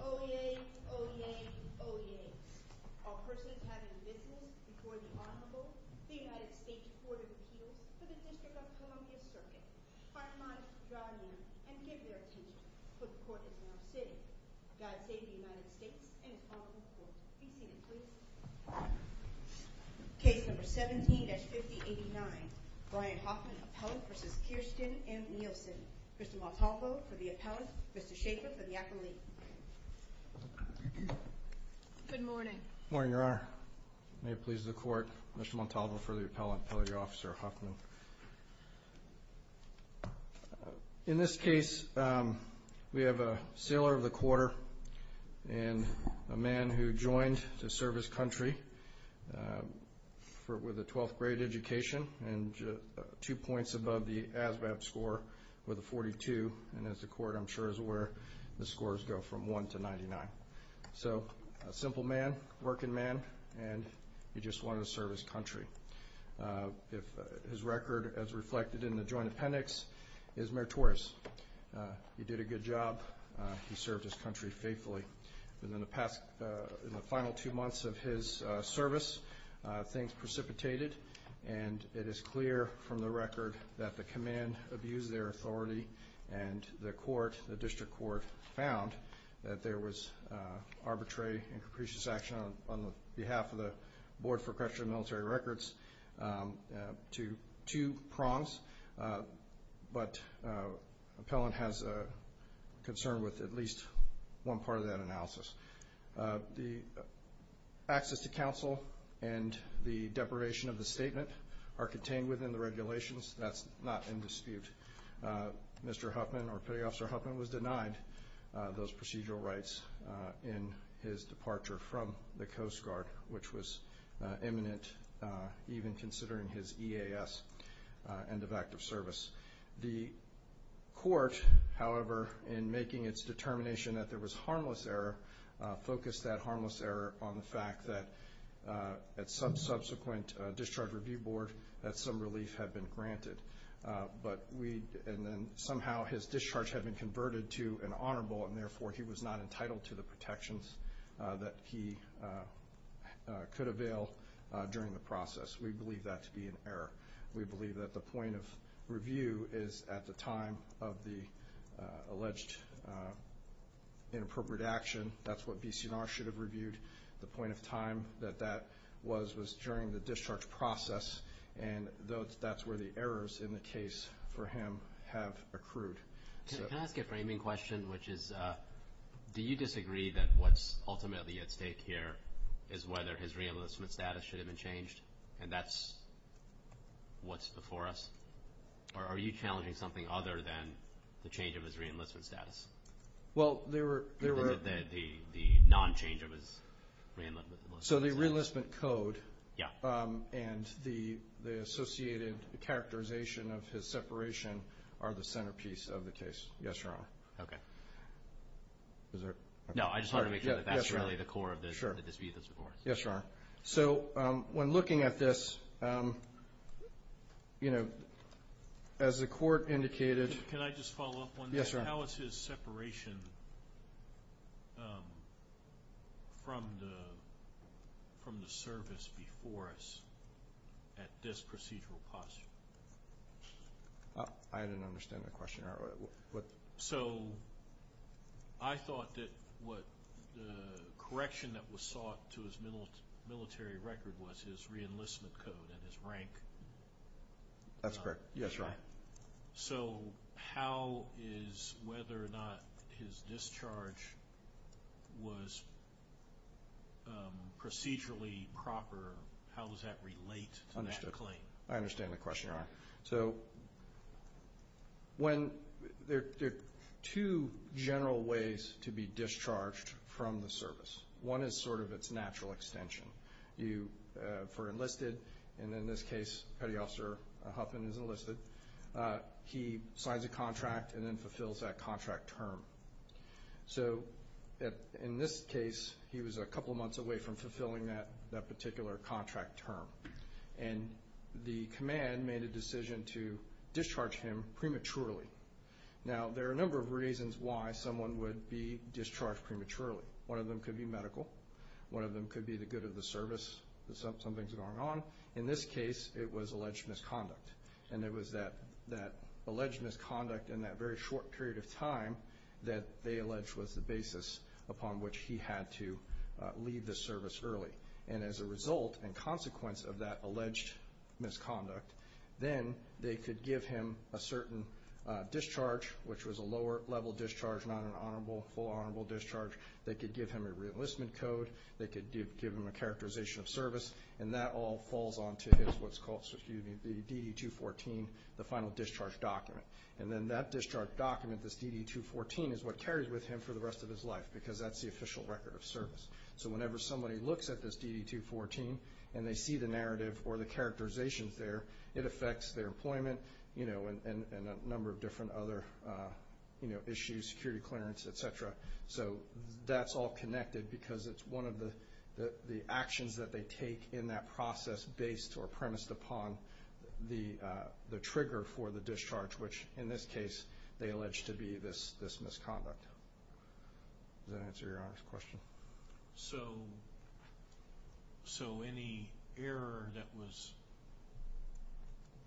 Oyez, oyez, oyez, all persons having business before the Honorable, the United States Court of Appeals for the District of Columbia Circuit. I remind you to draw near and give your attention, for the Court is now sitting. God save the United States and its Honorable Court. Please be seated, please. Case number 17-5089, Brian Huffman, appellant v. Kirstjen M. Nielsen. Mr. Montalvo for the appellant, Mr. Shaffer for the appellee. Good morning. Good morning, Your Honor. May it please the Court, Mr. Montalvo for the appellant, appellate officer Huffman. In this case, we have a sailor of the quarter and a man who joined to serve his country with a 12th grade education and two points above the ASVAB score with a 42, and as the Court, I'm sure, is aware, the scores go from 1 to 99. So, a simple man, working man, and he just wanted to serve his country. His record, as reflected in the joint appendix, is meritorious. He did a good job. He served his country faithfully. In the final two months of his service, things precipitated, and it is clear from the record that the command abused their authority, and the District Court found that there was arbitrary and capricious action on behalf of the Board for Creston Military Records to two prongs, but the appellant has a concern with at least one part of that analysis. The access to counsel and the deprivation of the statement are contained within the regulations. That's not in dispute. Mr. Huffman, or Petty Officer Huffman, was denied those procedural rights in his departure from the Coast Guard, which was imminent even considering his EAS, end of active service. The Court, however, in making its determination that there was harmless error, focused that harmless error on the fact that at some subsequent discharge review board, that some relief had been granted. And then somehow his discharge had been converted to an honorable, and therefore he was not entitled to the protections that he could avail during the process. We believe that to be an error. We believe that the point of review is at the time of the alleged inappropriate action. That's what BC&R should have reviewed. The point of time that that was was during the discharge process, and that's where the errors in the case for him have accrued. Can I ask a framing question, which is, do you disagree that what's ultimately at stake here is whether his reenlistment status should have been changed, and that's what's before us? Or are you challenging something other than the change of his reenlistment status? Well, there were the non-change of his reenlistment status. So the reenlistment code. Yeah. And the associated characterization of his separation are the centerpiece of the case. Yes, Your Honor. Okay. No, I just wanted to make sure that that's really the core of the dispute that's before us. Yes, Your Honor. So when looking at this, you know, as the court indicated. Can I just follow up on that? Yes, Your Honor. How is his separation from the service before us at this procedural posture? I didn't understand the question. So I thought that what the correction that was sought to his military record was his reenlistment code and his rank. That's correct. Yes, Your Honor. So how is whether or not his discharge was procedurally proper, how does that relate to that claim? I understand the question, Your Honor. So there are two general ways to be discharged from the service. One is sort of its natural extension. You are enlisted, and in this case, Petty Officer Huffman is enlisted. He signs a contract and then fulfills that contract term. So in this case, he was a couple months away from fulfilling that particular contract term. And the command made a decision to discharge him prematurely. Now, there are a number of reasons why someone would be discharged prematurely. One of them could be medical. One of them could be the good of the service. Something's going on. In this case, it was alleged misconduct. And it was that alleged misconduct in that very short period of time that they alleged was the basis upon which he had to leave the service early. And as a result and consequence of that alleged misconduct, then they could give him a certain discharge, which was a lower level discharge, not an honorable, full honorable discharge. They could give him a reenlistment code. They could give him a characterization of service. And that all falls onto what's called the DD-214, the final discharge document. And then that discharge document, this DD-214, is what carries with him for the rest of his life, because that's the official record of service. So whenever somebody looks at this DD-214 and they see the narrative or the characterizations there, it affects their employment and a number of different other issues, security clearance, et cetera. So that's all connected because it's one of the actions that they take in that process based or premised upon the trigger for the discharge, which in this case they allege to be this misconduct. Does that answer your honest question? So any error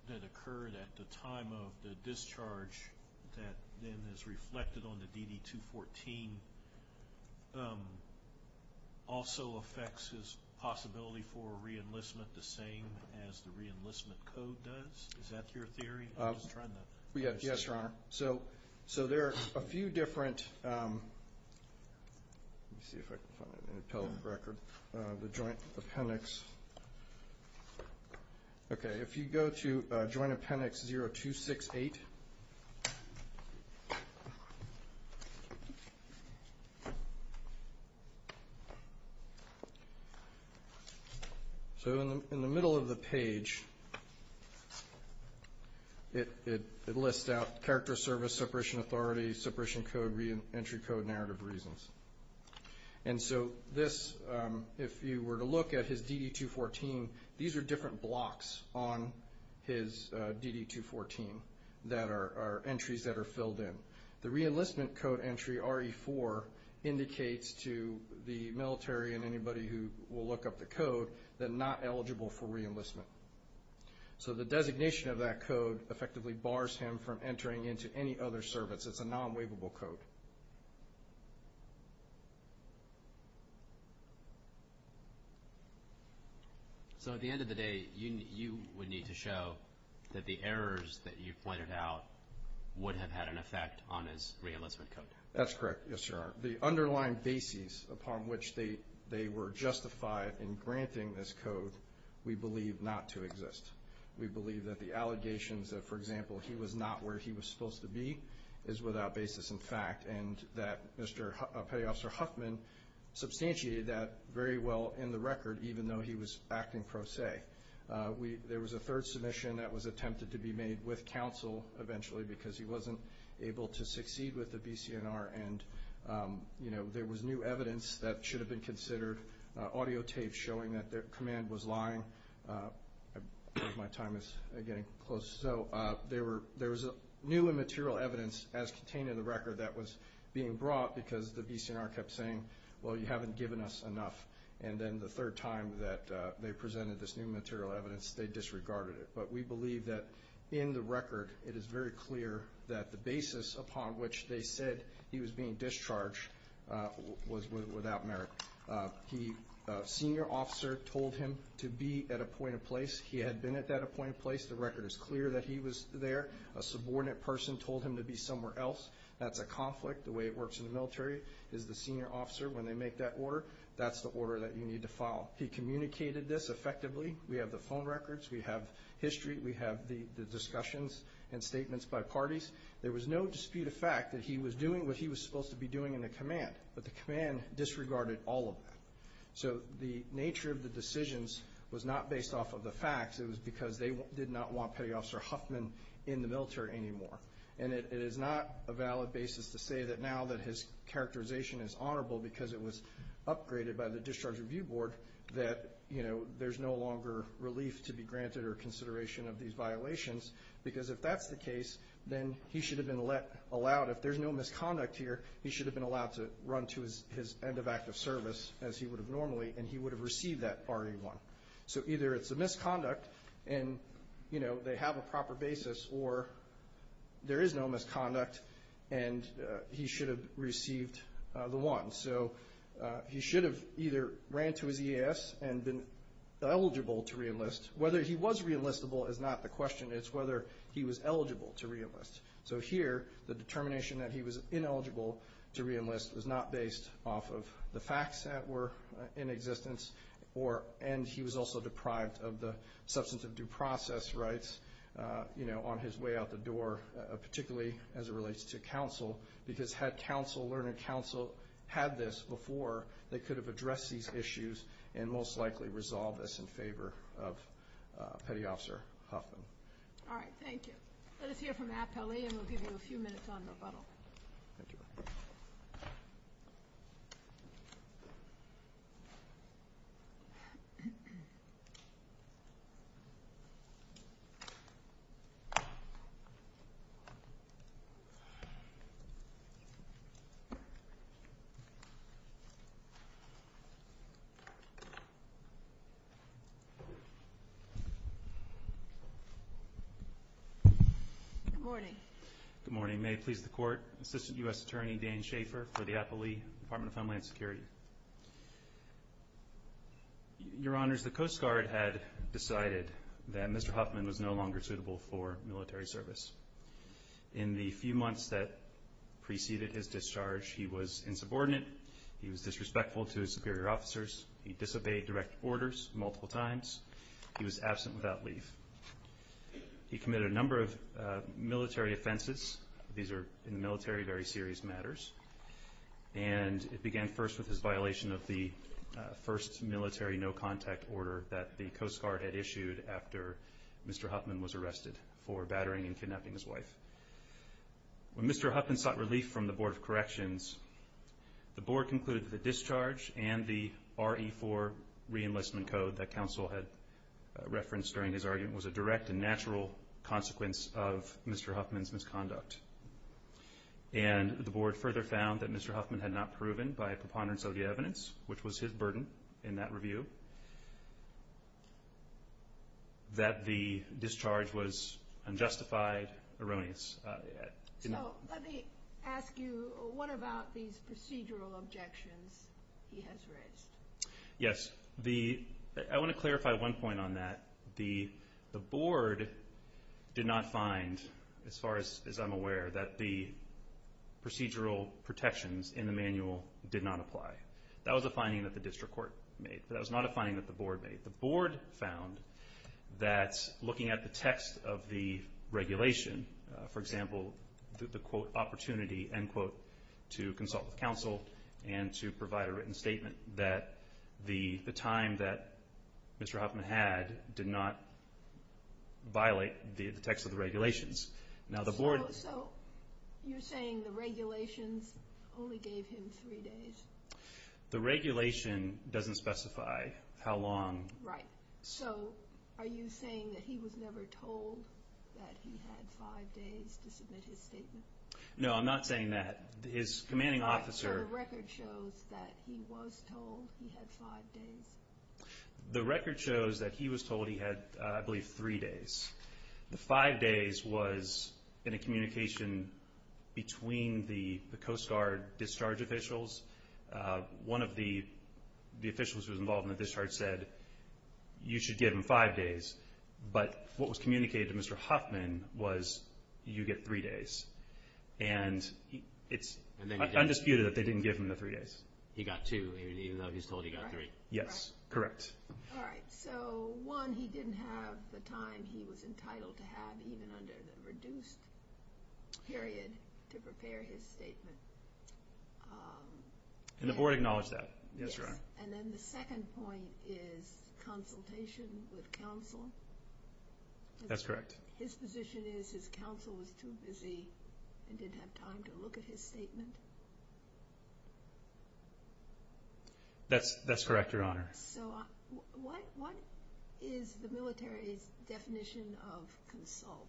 that occurred at the time of the discharge that then is reflected on the DD-214 also affects his possibility for reenlistment the same as the reenlistment code does? Is that your theory? Yes, Your Honor. So there are a few different—let me see if I can find an appellate record—the Joint Appendix. Okay, if you go to Joint Appendix 0268. So in the middle of the page, it lists out character service, separation authority, separation code, reentry code, narrative reasons. And so this, if you were to look at his DD-214, these are different blocks on his DD-214 that are entries that are filled in. The reenlistment code entry, RE-4, indicates to the military and anybody who will look up the code that not eligible for reenlistment. So the designation of that code effectively bars him from entering into any other service. It's a non-waivable code. So at the end of the day, you would need to show that the errors that you pointed out would have had an effect on his reenlistment code? That's correct, yes, Your Honor. The underlying basis upon which they were justified in granting this code we believe not to exist. We believe that the allegations that, for example, he was not where he was supposed to be is without basis in fact, and that Petty Officer Huffman substantiated that very well in the record, even though he was acting pro se. There was a third submission that was attempted to be made with counsel eventually because he wasn't able to succeed with the BCNR, and there was new evidence that should have been considered, audio tapes showing that their command was lying. I believe my time is getting close. So there was new and material evidence as contained in the record that was being brought because the BCNR kept saying, well, you haven't given us enough. And then the third time that they presented this new material evidence, they disregarded it. But we believe that in the record it is very clear that the basis upon which they said he was being discharged was without merit. The senior officer told him to be at a point of place. He had been at that point of place. The record is clear that he was there. A subordinate person told him to be somewhere else. That's a conflict. The way it works in the military is the senior officer, when they make that order, that's the order that you need to follow. He communicated this effectively. We have the phone records. We have history. We have the discussions and statements by parties. There was no dispute of fact that he was doing what he was supposed to be doing in the command, but the command disregarded all of that. So the nature of the decisions was not based off of the facts. It was because they did not want Petty Officer Huffman in the military anymore. And it is not a valid basis to say that now that his characterization is honorable because it was upgraded by the Discharge Review Board that, you know, there's no longer relief to be granted or consideration of these violations, because if that's the case, then he should have been allowed, if there's no misconduct here, he should have been allowed to run to his end of active service as he would have normally, and he would have received that RE1. So either it's a misconduct and, you know, they have a proper basis, or there is no misconduct and he should have received the one. So he should have either ran to his EAS and been eligible to reenlist. Whether he was reenlistable is not the question. It's whether he was eligible to reenlist. So here the determination that he was ineligible to reenlist was not based off of the facts that were in existence and he was also deprived of the substance of due process rights, you know, on his way out the door, particularly as it relates to counsel, because had counsel, learned counsel, had this before, they could have addressed these issues and most likely resolved this in favor of Petty Officer Huffman. All right, thank you. Let us hear from Appellee and we'll give you a few minutes on rebuttal. Good morning. Good morning. May it please the Court. Assistant U.S. Attorney Dan Schaefer for the Appellee Department of Homeland Security. Your Honors, the Coast Guard had decided that Mr. Huffman was no longer suitable for military service. In the few months that preceded his discharge, he was insubordinate. He was disrespectful to his superior officers. He disobeyed direct orders multiple times. He was absent without leave. He committed a number of military offenses. These are, in the military, very serious matters. And it began first with his violation of the first military no-contact order that the Coast Guard had issued after Mr. Huffman was arrested for battering and kidnapping his wife. When Mr. Huffman sought relief from the Board of Corrections, the Board concluded that the discharge and the RE-4 re-enlistment code that counsel had referenced during his argument was a direct and natural consequence of Mr. Huffman's misconduct. And the Board further found that Mr. Huffman had not proven by a preponderance of the evidence, which was his burden in that review, that the discharge was unjustified, erroneous. So let me ask you, what about these procedural objections he has raised? Yes. I want to clarify one point on that. The Board did not find, as far as I'm aware, that the procedural protections in the manual did not apply. That was a finding that the district court made, but that was not a finding that the Board made. The Board found that looking at the text of the regulation, for example, the, quote, opportunity, end quote, to consult with counsel and to provide a written statement, that the time that Mr. Huffman had did not violate the text of the regulations. So you're saying the regulations only gave him three days? The regulation doesn't specify how long. Right. So are you saying that he was never told that he had five days to submit his statement? No, I'm not saying that. His commanding officer... So the record shows that he was told he had five days? The record shows that he was told he had, I believe, three days. The five days was in a communication between the Coast Guard discharge officials. One of the officials who was involved in the discharge said, you should give him five days. But what was communicated to Mr. Huffman was, you get three days. And it's undisputed that they didn't give him the three days. He got two, even though he's told he got three. Yes, correct. All right. So, one, he didn't have the time he was entitled to have, even under the reduced period, to prepare his statement. And the board acknowledged that. Yes, Your Honor. And then the second point is consultation with counsel. That's correct. His position is his counsel was too busy and didn't have time to look at his statement. That's correct, Your Honor. So, what is the military's definition of consult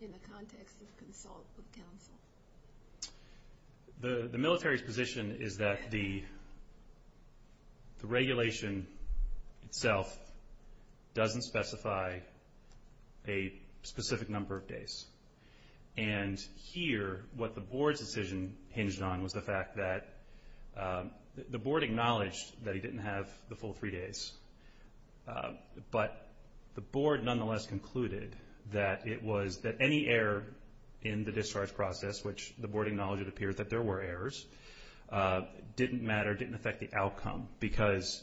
in the context of consult with counsel? The military's position is that the regulation itself doesn't specify a specific number of days. And here, what the board's decision hinged on was the fact that the board acknowledged that he didn't have the full three days. But the board nonetheless concluded that it was that any error in the discharge process, which the board acknowledged it appeared that there were errors, didn't matter, didn't affect the outcome because,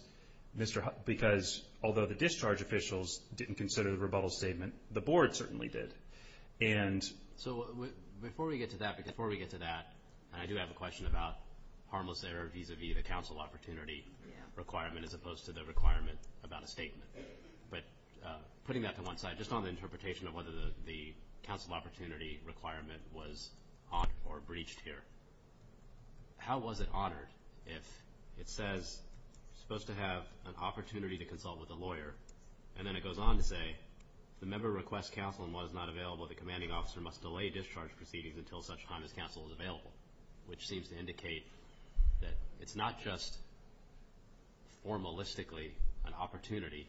although the discharge officials didn't consider the rebuttal statement, the board certainly did. So, before we get to that, I do have a question about harmless error vis-à-vis the counsel opportunity requirement as opposed to the requirement about a statement. But putting that to one side, just on the interpretation of whether the counsel opportunity requirement was honored or breached here, how was it honored if it says you're supposed to have an opportunity to consult with a lawyer, and then it goes on to say the member requests counsel in what is not available, the commanding officer must delay discharge proceedings until such time as counsel is available, which seems to indicate that it's not just formalistically an opportunity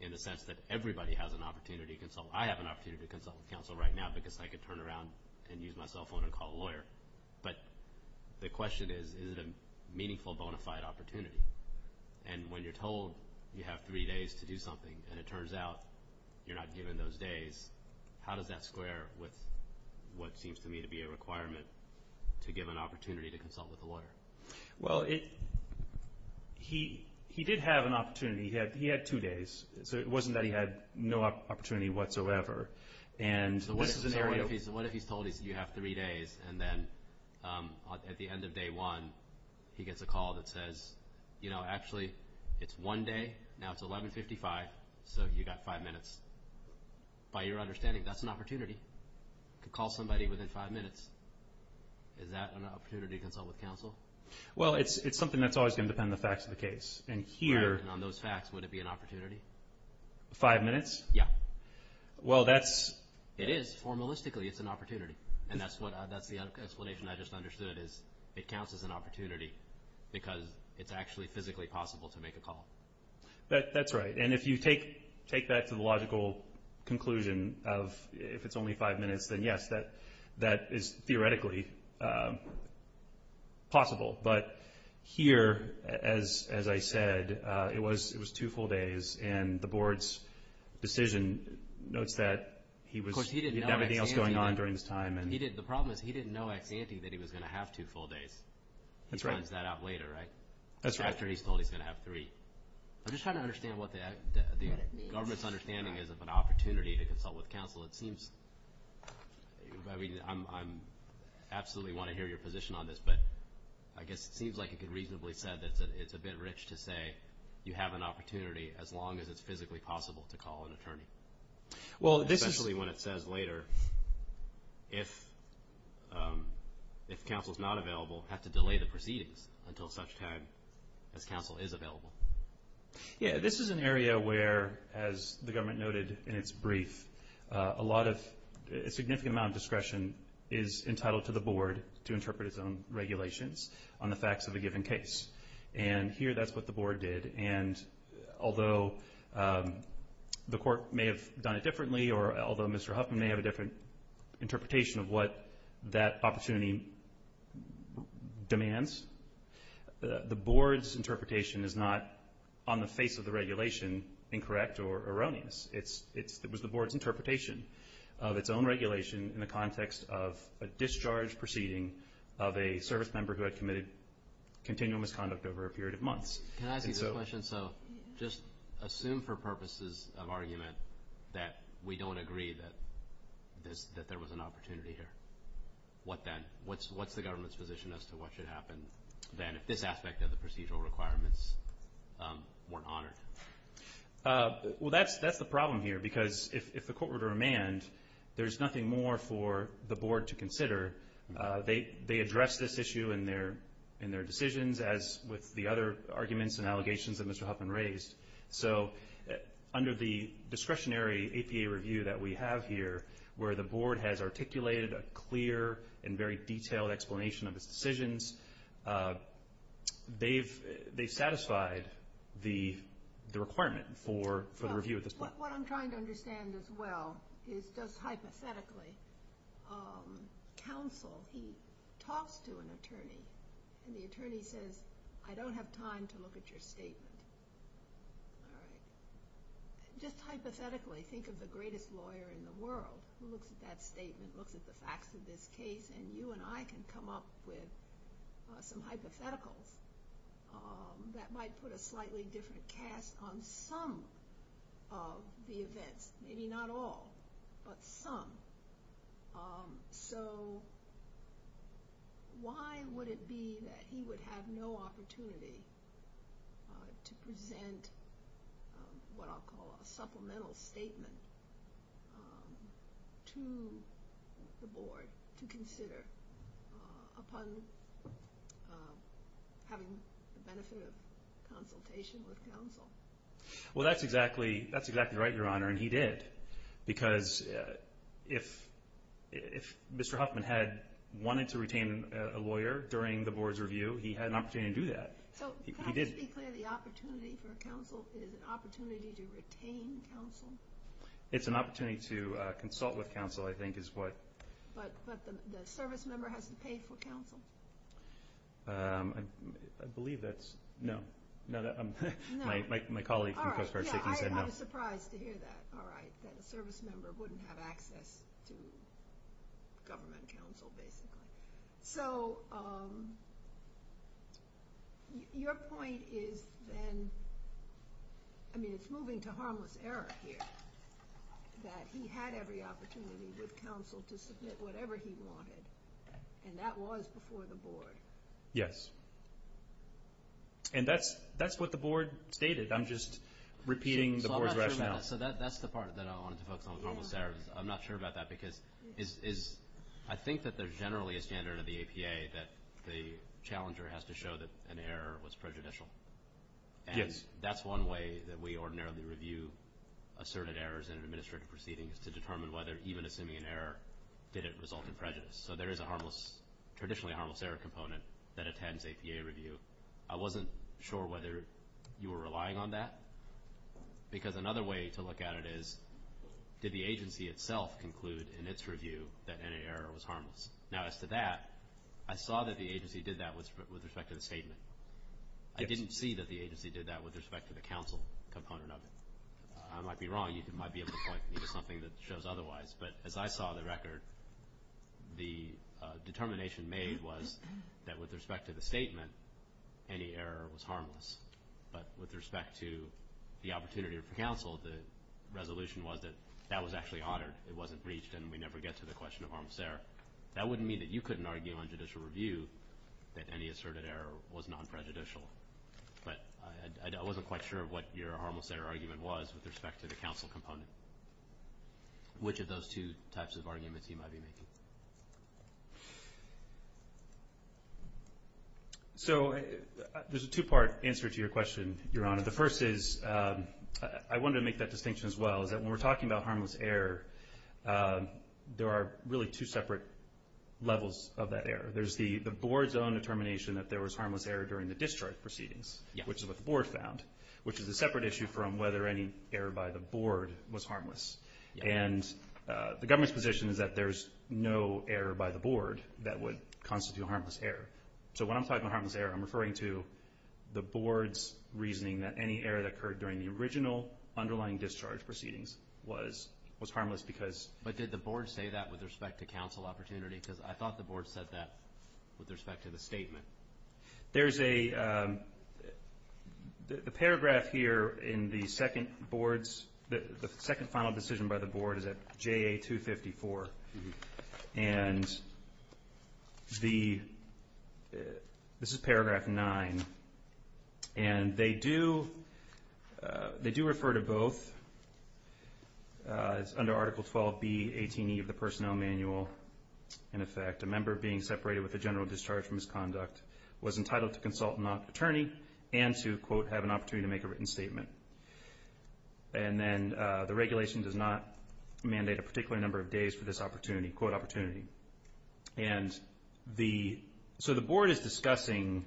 in the sense that everybody has an opportunity. I have an opportunity to consult with counsel right now because I can turn around and use my cell phone and call a lawyer. But the question is, is it a meaningful, bona fide opportunity? And when you're told you have three days to do something and it turns out you're not given those days, how does that square with what seems to me to be a requirement to give an opportunity to consult with a lawyer? Well, he did have an opportunity. He had two days. So it wasn't that he had no opportunity whatsoever. So what if he's told you have three days, and then at the end of day one he gets a call that says, you know, actually it's one day, now it's 1155, so you've got five minutes. By your understanding, that's an opportunity. You could call somebody within five minutes. Is that an opportunity to consult with counsel? Well, it's something that's always going to depend on the facts of the case. And on those facts, would it be an opportunity? Five minutes? Yeah. Well, that's. It is. Formalistically, it's an opportunity. And that's the explanation I just understood is it counts as an opportunity because it's actually physically possible to make a call. That's right. And if you take that to the logical conclusion of if it's only five minutes, then, yes, that is theoretically possible. But here, as I said, it was two full days. And the Board's decision notes that he had everything else going on during this time. The problem is he didn't know ex ante that he was going to have two full days. That's right. He finds that out later, right? That's right. After he's told he's going to have three. I'm just trying to understand what the government's understanding is of an opportunity to consult with counsel. It seems, I mean, I absolutely want to hear your position on this, but I guess it seems like you could reasonably say that it's a bit rich to say you have an opportunity as long as it's physically possible to call an attorney. Well, this is. Especially when it says later if counsel's not available, have to delay the proceedings until such time as counsel is available. Yeah, this is an area where, as the government noted in its brief, a significant amount of discretion is entitled to the Board to interpret its own regulations on the facts of a given case. And here that's what the Board did. And although the Court may have done it differently, or although Mr. Huffman may have a different interpretation of what that opportunity demands, the Board's interpretation is not on the face of the regulation incorrect or erroneous. It was the Board's interpretation of its own regulation in the context of a discharge proceeding of a service member who had committed continual misconduct over a period of months. Can I ask you this question? So just assume for purposes of argument that we don't agree that there was an opportunity here. What then? What's the government's position as to what should happen then if this aspect of the procedural requirements weren't honored? Well, that's the problem here because if the court were to remand, there's nothing more for the Board to consider. They address this issue in their decisions as with the other arguments and allegations that Mr. Huffman raised. So under the discretionary APA review that we have here, where the Board has articulated a clear and very detailed explanation of its decisions, they've satisfied the requirement for the review at this point. What I'm trying to understand as well is just hypothetically counsel, he talks to an attorney and the attorney says, I don't have time to look at your statement. Just hypothetically think of the greatest lawyer in the world who looks at that statement, looks at the facts of this case, and you and I can come up with some hypotheticals that might put a slightly different cast on some of the events, maybe not all, but some. So why would it be that he would have no opportunity to present what I'll call a supplemental statement to the Board to consider upon having the benefit of consultation with counsel? Well, that's exactly right, Your Honor, and he did. Because if Mr. Huffman had wanted to retain a lawyer during the Board's review, he had an opportunity to do that. So can I just be clear, the opportunity for counsel is an opportunity to retain counsel? It's an opportunity to consult with counsel, I think, is what... I believe that's no. My colleague from Coast Guard Safety said no. I was surprised to hear that, all right, that a service member wouldn't have access to government counsel, basically. So your point is then, I mean, it's moving to harmless error here, that he had every opportunity with counsel to submit whatever he wanted, and that was before the Board. Yes. And that's what the Board stated. I'm just repeating the Board's rationale. So that's the part that I wanted to focus on was harmless error. I'm not sure about that because I think that there's generally a standard of the APA that the challenger has to show that an error was prejudicial. And that's one way that we ordinarily review asserted errors in an administrative proceeding is to determine whether even assuming an error did it result in prejudice. So there is a harmless, traditionally a harmless error component that attends APA review. I wasn't sure whether you were relying on that because another way to look at it is, did the agency itself conclude in its review that any error was harmless? Now, as to that, I saw that the agency did that with respect to the statement. I didn't see that the agency did that with respect to the counsel component of it. I might be wrong. You might be able to point me to something that shows otherwise. But as I saw the record, the determination made was that with respect to the statement, any error was harmless. But with respect to the opportunity for counsel, the resolution was that that was actually honored. It wasn't breached, and we never get to the question of harmless error. That wouldn't mean that you couldn't argue on judicial review that any asserted error was non-prejudicial. But I wasn't quite sure what your harmless error argument was with respect to the counsel component. Which of those two types of arguments you might be making? So there's a two-part answer to your question, Your Honor. The first is, I wanted to make that distinction as well, is that when we're talking about harmless error, there are really two separate levels of that error. There's the board's own determination that there was harmless error during the discharge proceedings, which is what the board found, which is a separate issue from whether any error by the board was harmless. And the government's position is that there's no error by the board that would constitute harmless error. So when I'm talking about harmless error, I'm referring to the board's reasoning that any error that occurred during the original underlying discharge proceedings was harmless because— But did the board say that with respect to counsel opportunity? Because I thought the board said that with respect to the statement. There's a paragraph here in the second board's—the second final decision by the board is at JA 254. And this is paragraph 9. And they do refer to both under Article 12B, 18E of the Personnel Manual. In effect, a member being separated with a general discharge from his conduct was entitled to consult an attorney and to, quote, have an opportunity to make a written statement. And then the regulation does not mandate a particular number of days for this opportunity, quote, opportunity. And the—so the board is discussing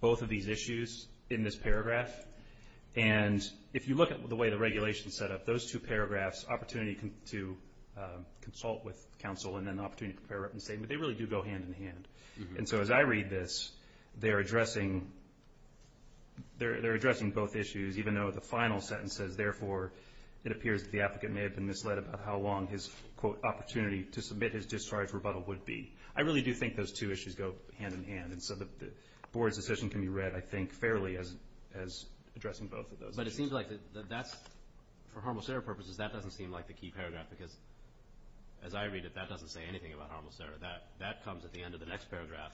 both of these issues in this paragraph. And if you look at the way the regulation is set up, those two paragraphs, opportunity to consult with counsel and then the opportunity to prepare a written statement, they really do go hand in hand. And so as I read this, they're addressing both issues, even though the final sentence says, it appears that the applicant may have been misled about how long his, quote, opportunity to submit his discharge rebuttal would be. I really do think those two issues go hand in hand. And so the board's decision can be read, I think, fairly as addressing both of those issues. But it seems like that's—for Harmon-Serra purposes, that doesn't seem like the key paragraph because as I read it, that doesn't say anything about Harmon-Serra. That comes at the end of the next paragraph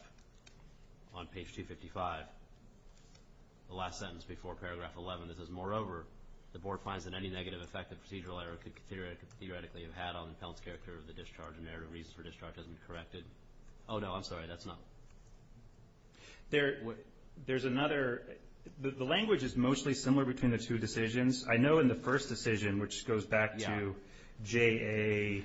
on page 255, the last sentence before paragraph 11. It says, moreover, the board finds that any negative effect that procedural error could theoretically have had on the appellant's character of the discharge and narrative reasons for discharge has been corrected. Oh, no, I'm sorry, that's not. There's another—the language is mostly similar between the two decisions. I know in the first decision, which goes back to JA39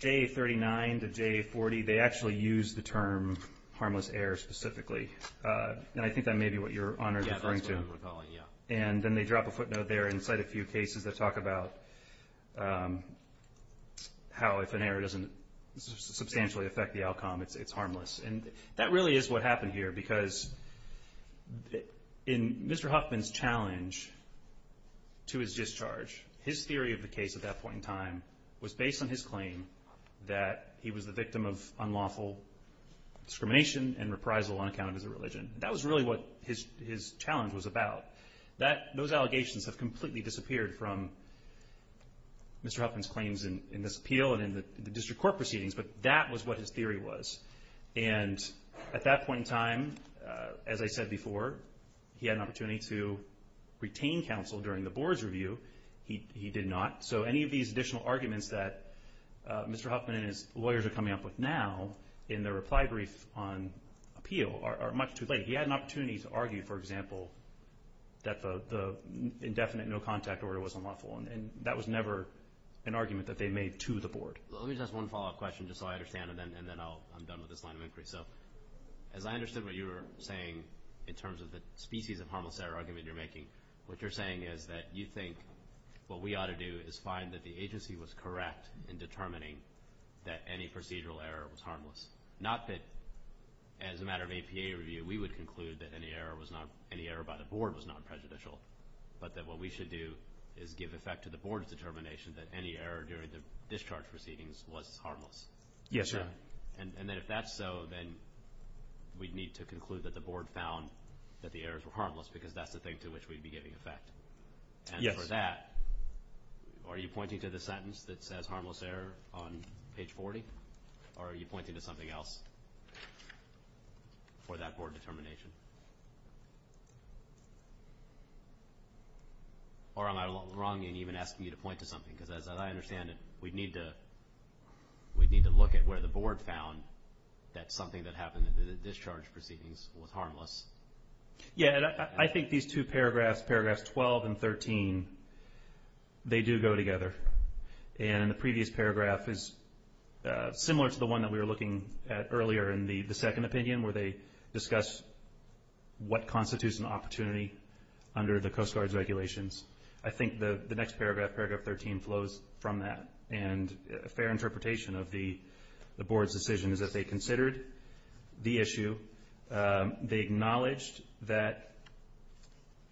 to JA40, they actually use the term harmless error specifically. And I think that may be what you're referring to. Yeah, that's what I'm recalling, yeah. And then they drop a footnote there and cite a few cases that talk about how if an error doesn't substantially affect the outcome, it's harmless. And that really is what happened here because in Mr. Huffman's challenge to his discharge, his theory of the case at that point in time was based on his claim that he was the victim of unlawful discrimination and reprisal on account of his religion. That was really what his challenge was about. Those allegations have completely disappeared from Mr. Huffman's claims in this appeal and in the district court proceedings, but that was what his theory was. And at that point in time, as I said before, he had an opportunity to retain counsel during the board's review. He did not. So any of these additional arguments that Mr. Huffman and his lawyers are coming up with now in their reply brief on appeal are much too late. He had an opportunity to argue, for example, that the indefinite no contact order was unlawful, and that was never an argument that they made to the board. Let me just ask one follow-up question just so I understand it, and then I'm done with this line of inquiry. So as I understood what you were saying in terms of the species of harmless error argument you're making, what you're saying is that you think what we ought to do is find that the agency was correct in determining that any procedural error was harmless. Not that, as a matter of APA review, we would conclude that any error by the board was not prejudicial, but that what we should do is give effect to the board's determination that any error during the discharge proceedings was harmless. Yes, sir. And then if that's so, then we'd need to conclude that the board found that the errors were harmless because that's the thing to which we'd be giving effect. And for that, are you pointing to the sentence that says harmless error on page 40, or are you pointing to something else for that board determination? Or am I wrong in even asking you to point to something? Because as I understand it, we'd need to look at where the board found that something that happened in the discharge proceedings was harmless. Yeah, and I think these two paragraphs, paragraphs 12 and 13, they do go together. And the previous paragraph is similar to the one that we were looking at earlier in the second opinion where they discuss what constitutes an opportunity under the Coast Guard's regulations. I think the next paragraph, paragraph 13, flows from that. And a fair interpretation of the board's decision is that they considered the issue, they acknowledged that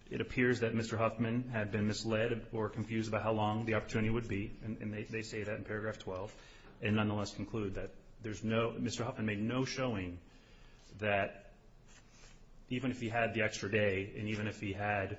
it appears that Mr. Huffman had been misled or confused about how long the opportunity would be, and they say that in paragraph 12, and nonetheless conclude that Mr. Huffman made no showing that even if he had the extra day and even if he had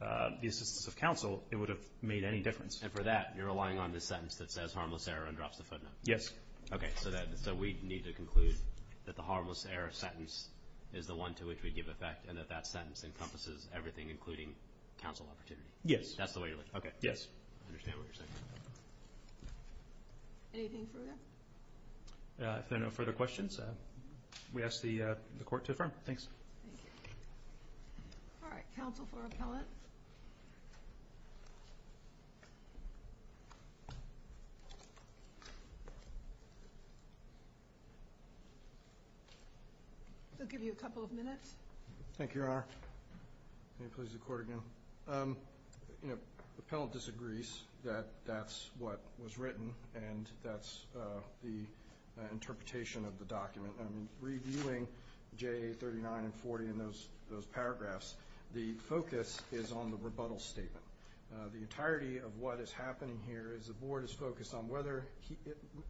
the assistance of counsel, it would have made any difference. And for that, you're relying on the sentence that says harmless error and drops the footnote? Yes. Okay. So we need to conclude that the harmless error sentence is the one to which we give effect and that that sentence encompasses everything including counsel opportunity? Yes. That's the way to look at it? Okay. Yes. I understand what you're saying. Anything further? If there are no further questions, we ask the Court to affirm. Thanks. Thank you. All right. Counsel for appellant. We'll give you a couple of minutes. Thank you, Your Honor. May it please the Court again. You know, the appellant disagrees that that's what was written and that's the interpretation of the document. Reviewing JA 39 and 40 and those paragraphs, the focus is on the rebuttal statement. The entirety of what is happening here is the Board is focused on whether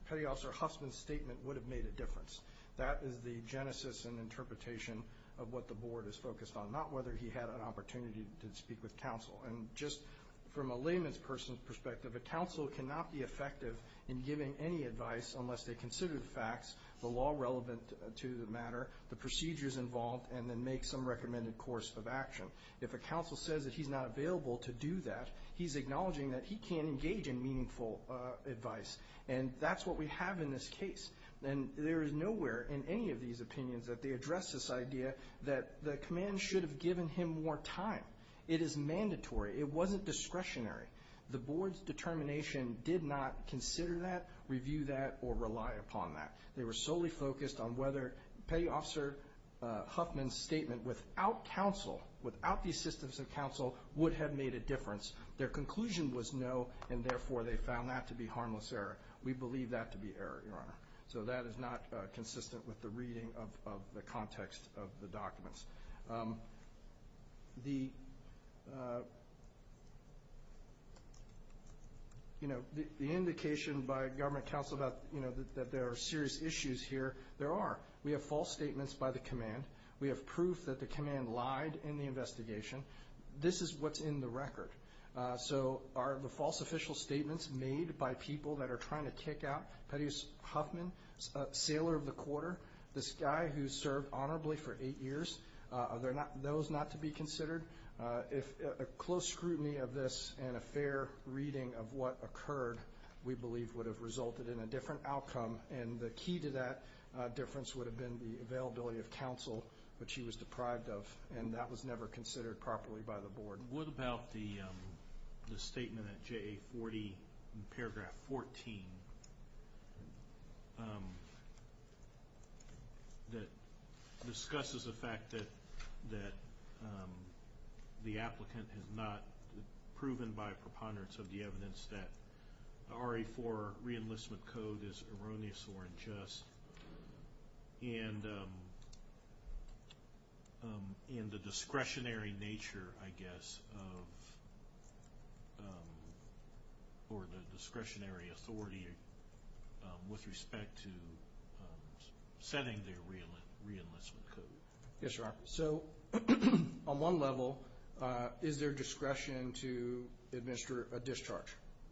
Petty Officer Huffman's statement would have made a difference. That is the genesis and interpretation of what the Board is focused on, not whether he had an opportunity to speak with counsel. And just from a layman's perspective, a counsel cannot be effective in giving any advice unless they consider the facts, the law relevant to the matter, the procedures involved, and then make some recommended course of action. If a counsel says that he's not available to do that, he's acknowledging that he can't engage in meaningful advice. And that's what we have in this case. And there is nowhere in any of these opinions that they address this idea that the command should have given him more time. It is mandatory. It wasn't discretionary. The Board's determination did not consider that, review that, or rely upon that. They were solely focused on whether Petty Officer Huffman's statement without counsel, without the assistance of counsel, would have made a difference. Their conclusion was no, and therefore they found that to be harmless error. We believe that to be error, Your Honor. So that is not consistent with the reading of the context of the documents. You know, the indication by government counsel that there are serious issues here, there are. We have false statements by the command. We have proof that the command lied in the investigation. This is what's in the record. So are the false official statements made by people that are trying to kick out Petty Officer Huffman, sailor of the quarter, this guy who served honorably for eight years, are those not to be considered? If a close scrutiny of this and a fair reading of what occurred, we believe would have resulted in a different outcome, and the key to that difference would have been the availability of counsel, which he was deprived of, and that was never considered properly by the Board. What about the statement at JA40, paragraph 14, that discusses the fact that the applicant has not proven by preponderance of the evidence that the RA4 reenlistment code is erroneous or unjust, and the discretionary nature, I guess, or the discretionary authority with respect to setting the reenlistment code? Yes, sir. So on one level, is there discretion to administer a discharge?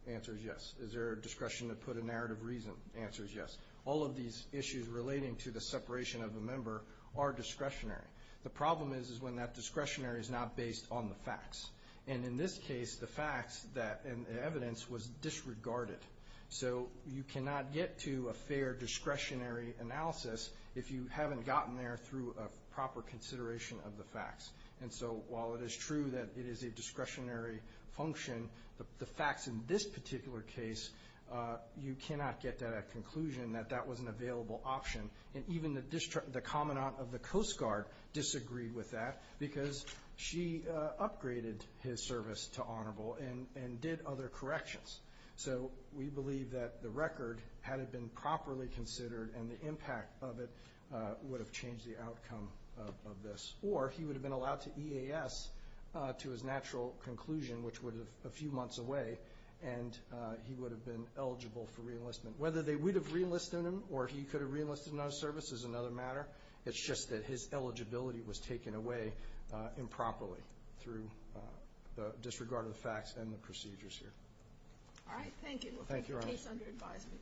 The answer is yes. Is there a discretion to put a narrative reason? The answer is yes. All of these issues relating to the separation of a member are discretionary. The problem is when that discretionary is not based on the facts, and in this case the facts and the evidence was disregarded. So you cannot get to a fair discretionary analysis if you haven't gotten there through a proper consideration of the facts. And so while it is true that it is a discretionary function, the facts in this particular case, you cannot get to that conclusion that that was an available option. And even the Commandant of the Coast Guard disagreed with that because she upgraded his service to honorable and did other corrections. So we believe that the record, had it been properly considered and the impact of it would have changed the outcome of this. Or he would have been allowed to EAS to his natural conclusion, which would have been a few months away, and he would have been eligible for reenlistment. Whether they would have reenlisted him or he could have reenlisted in other services is another matter. It's just that his eligibility was taken away improperly through the disregard of the facts and the procedures here. All right, thank you. Thank you, Your Honor. We'll take your case under advisement.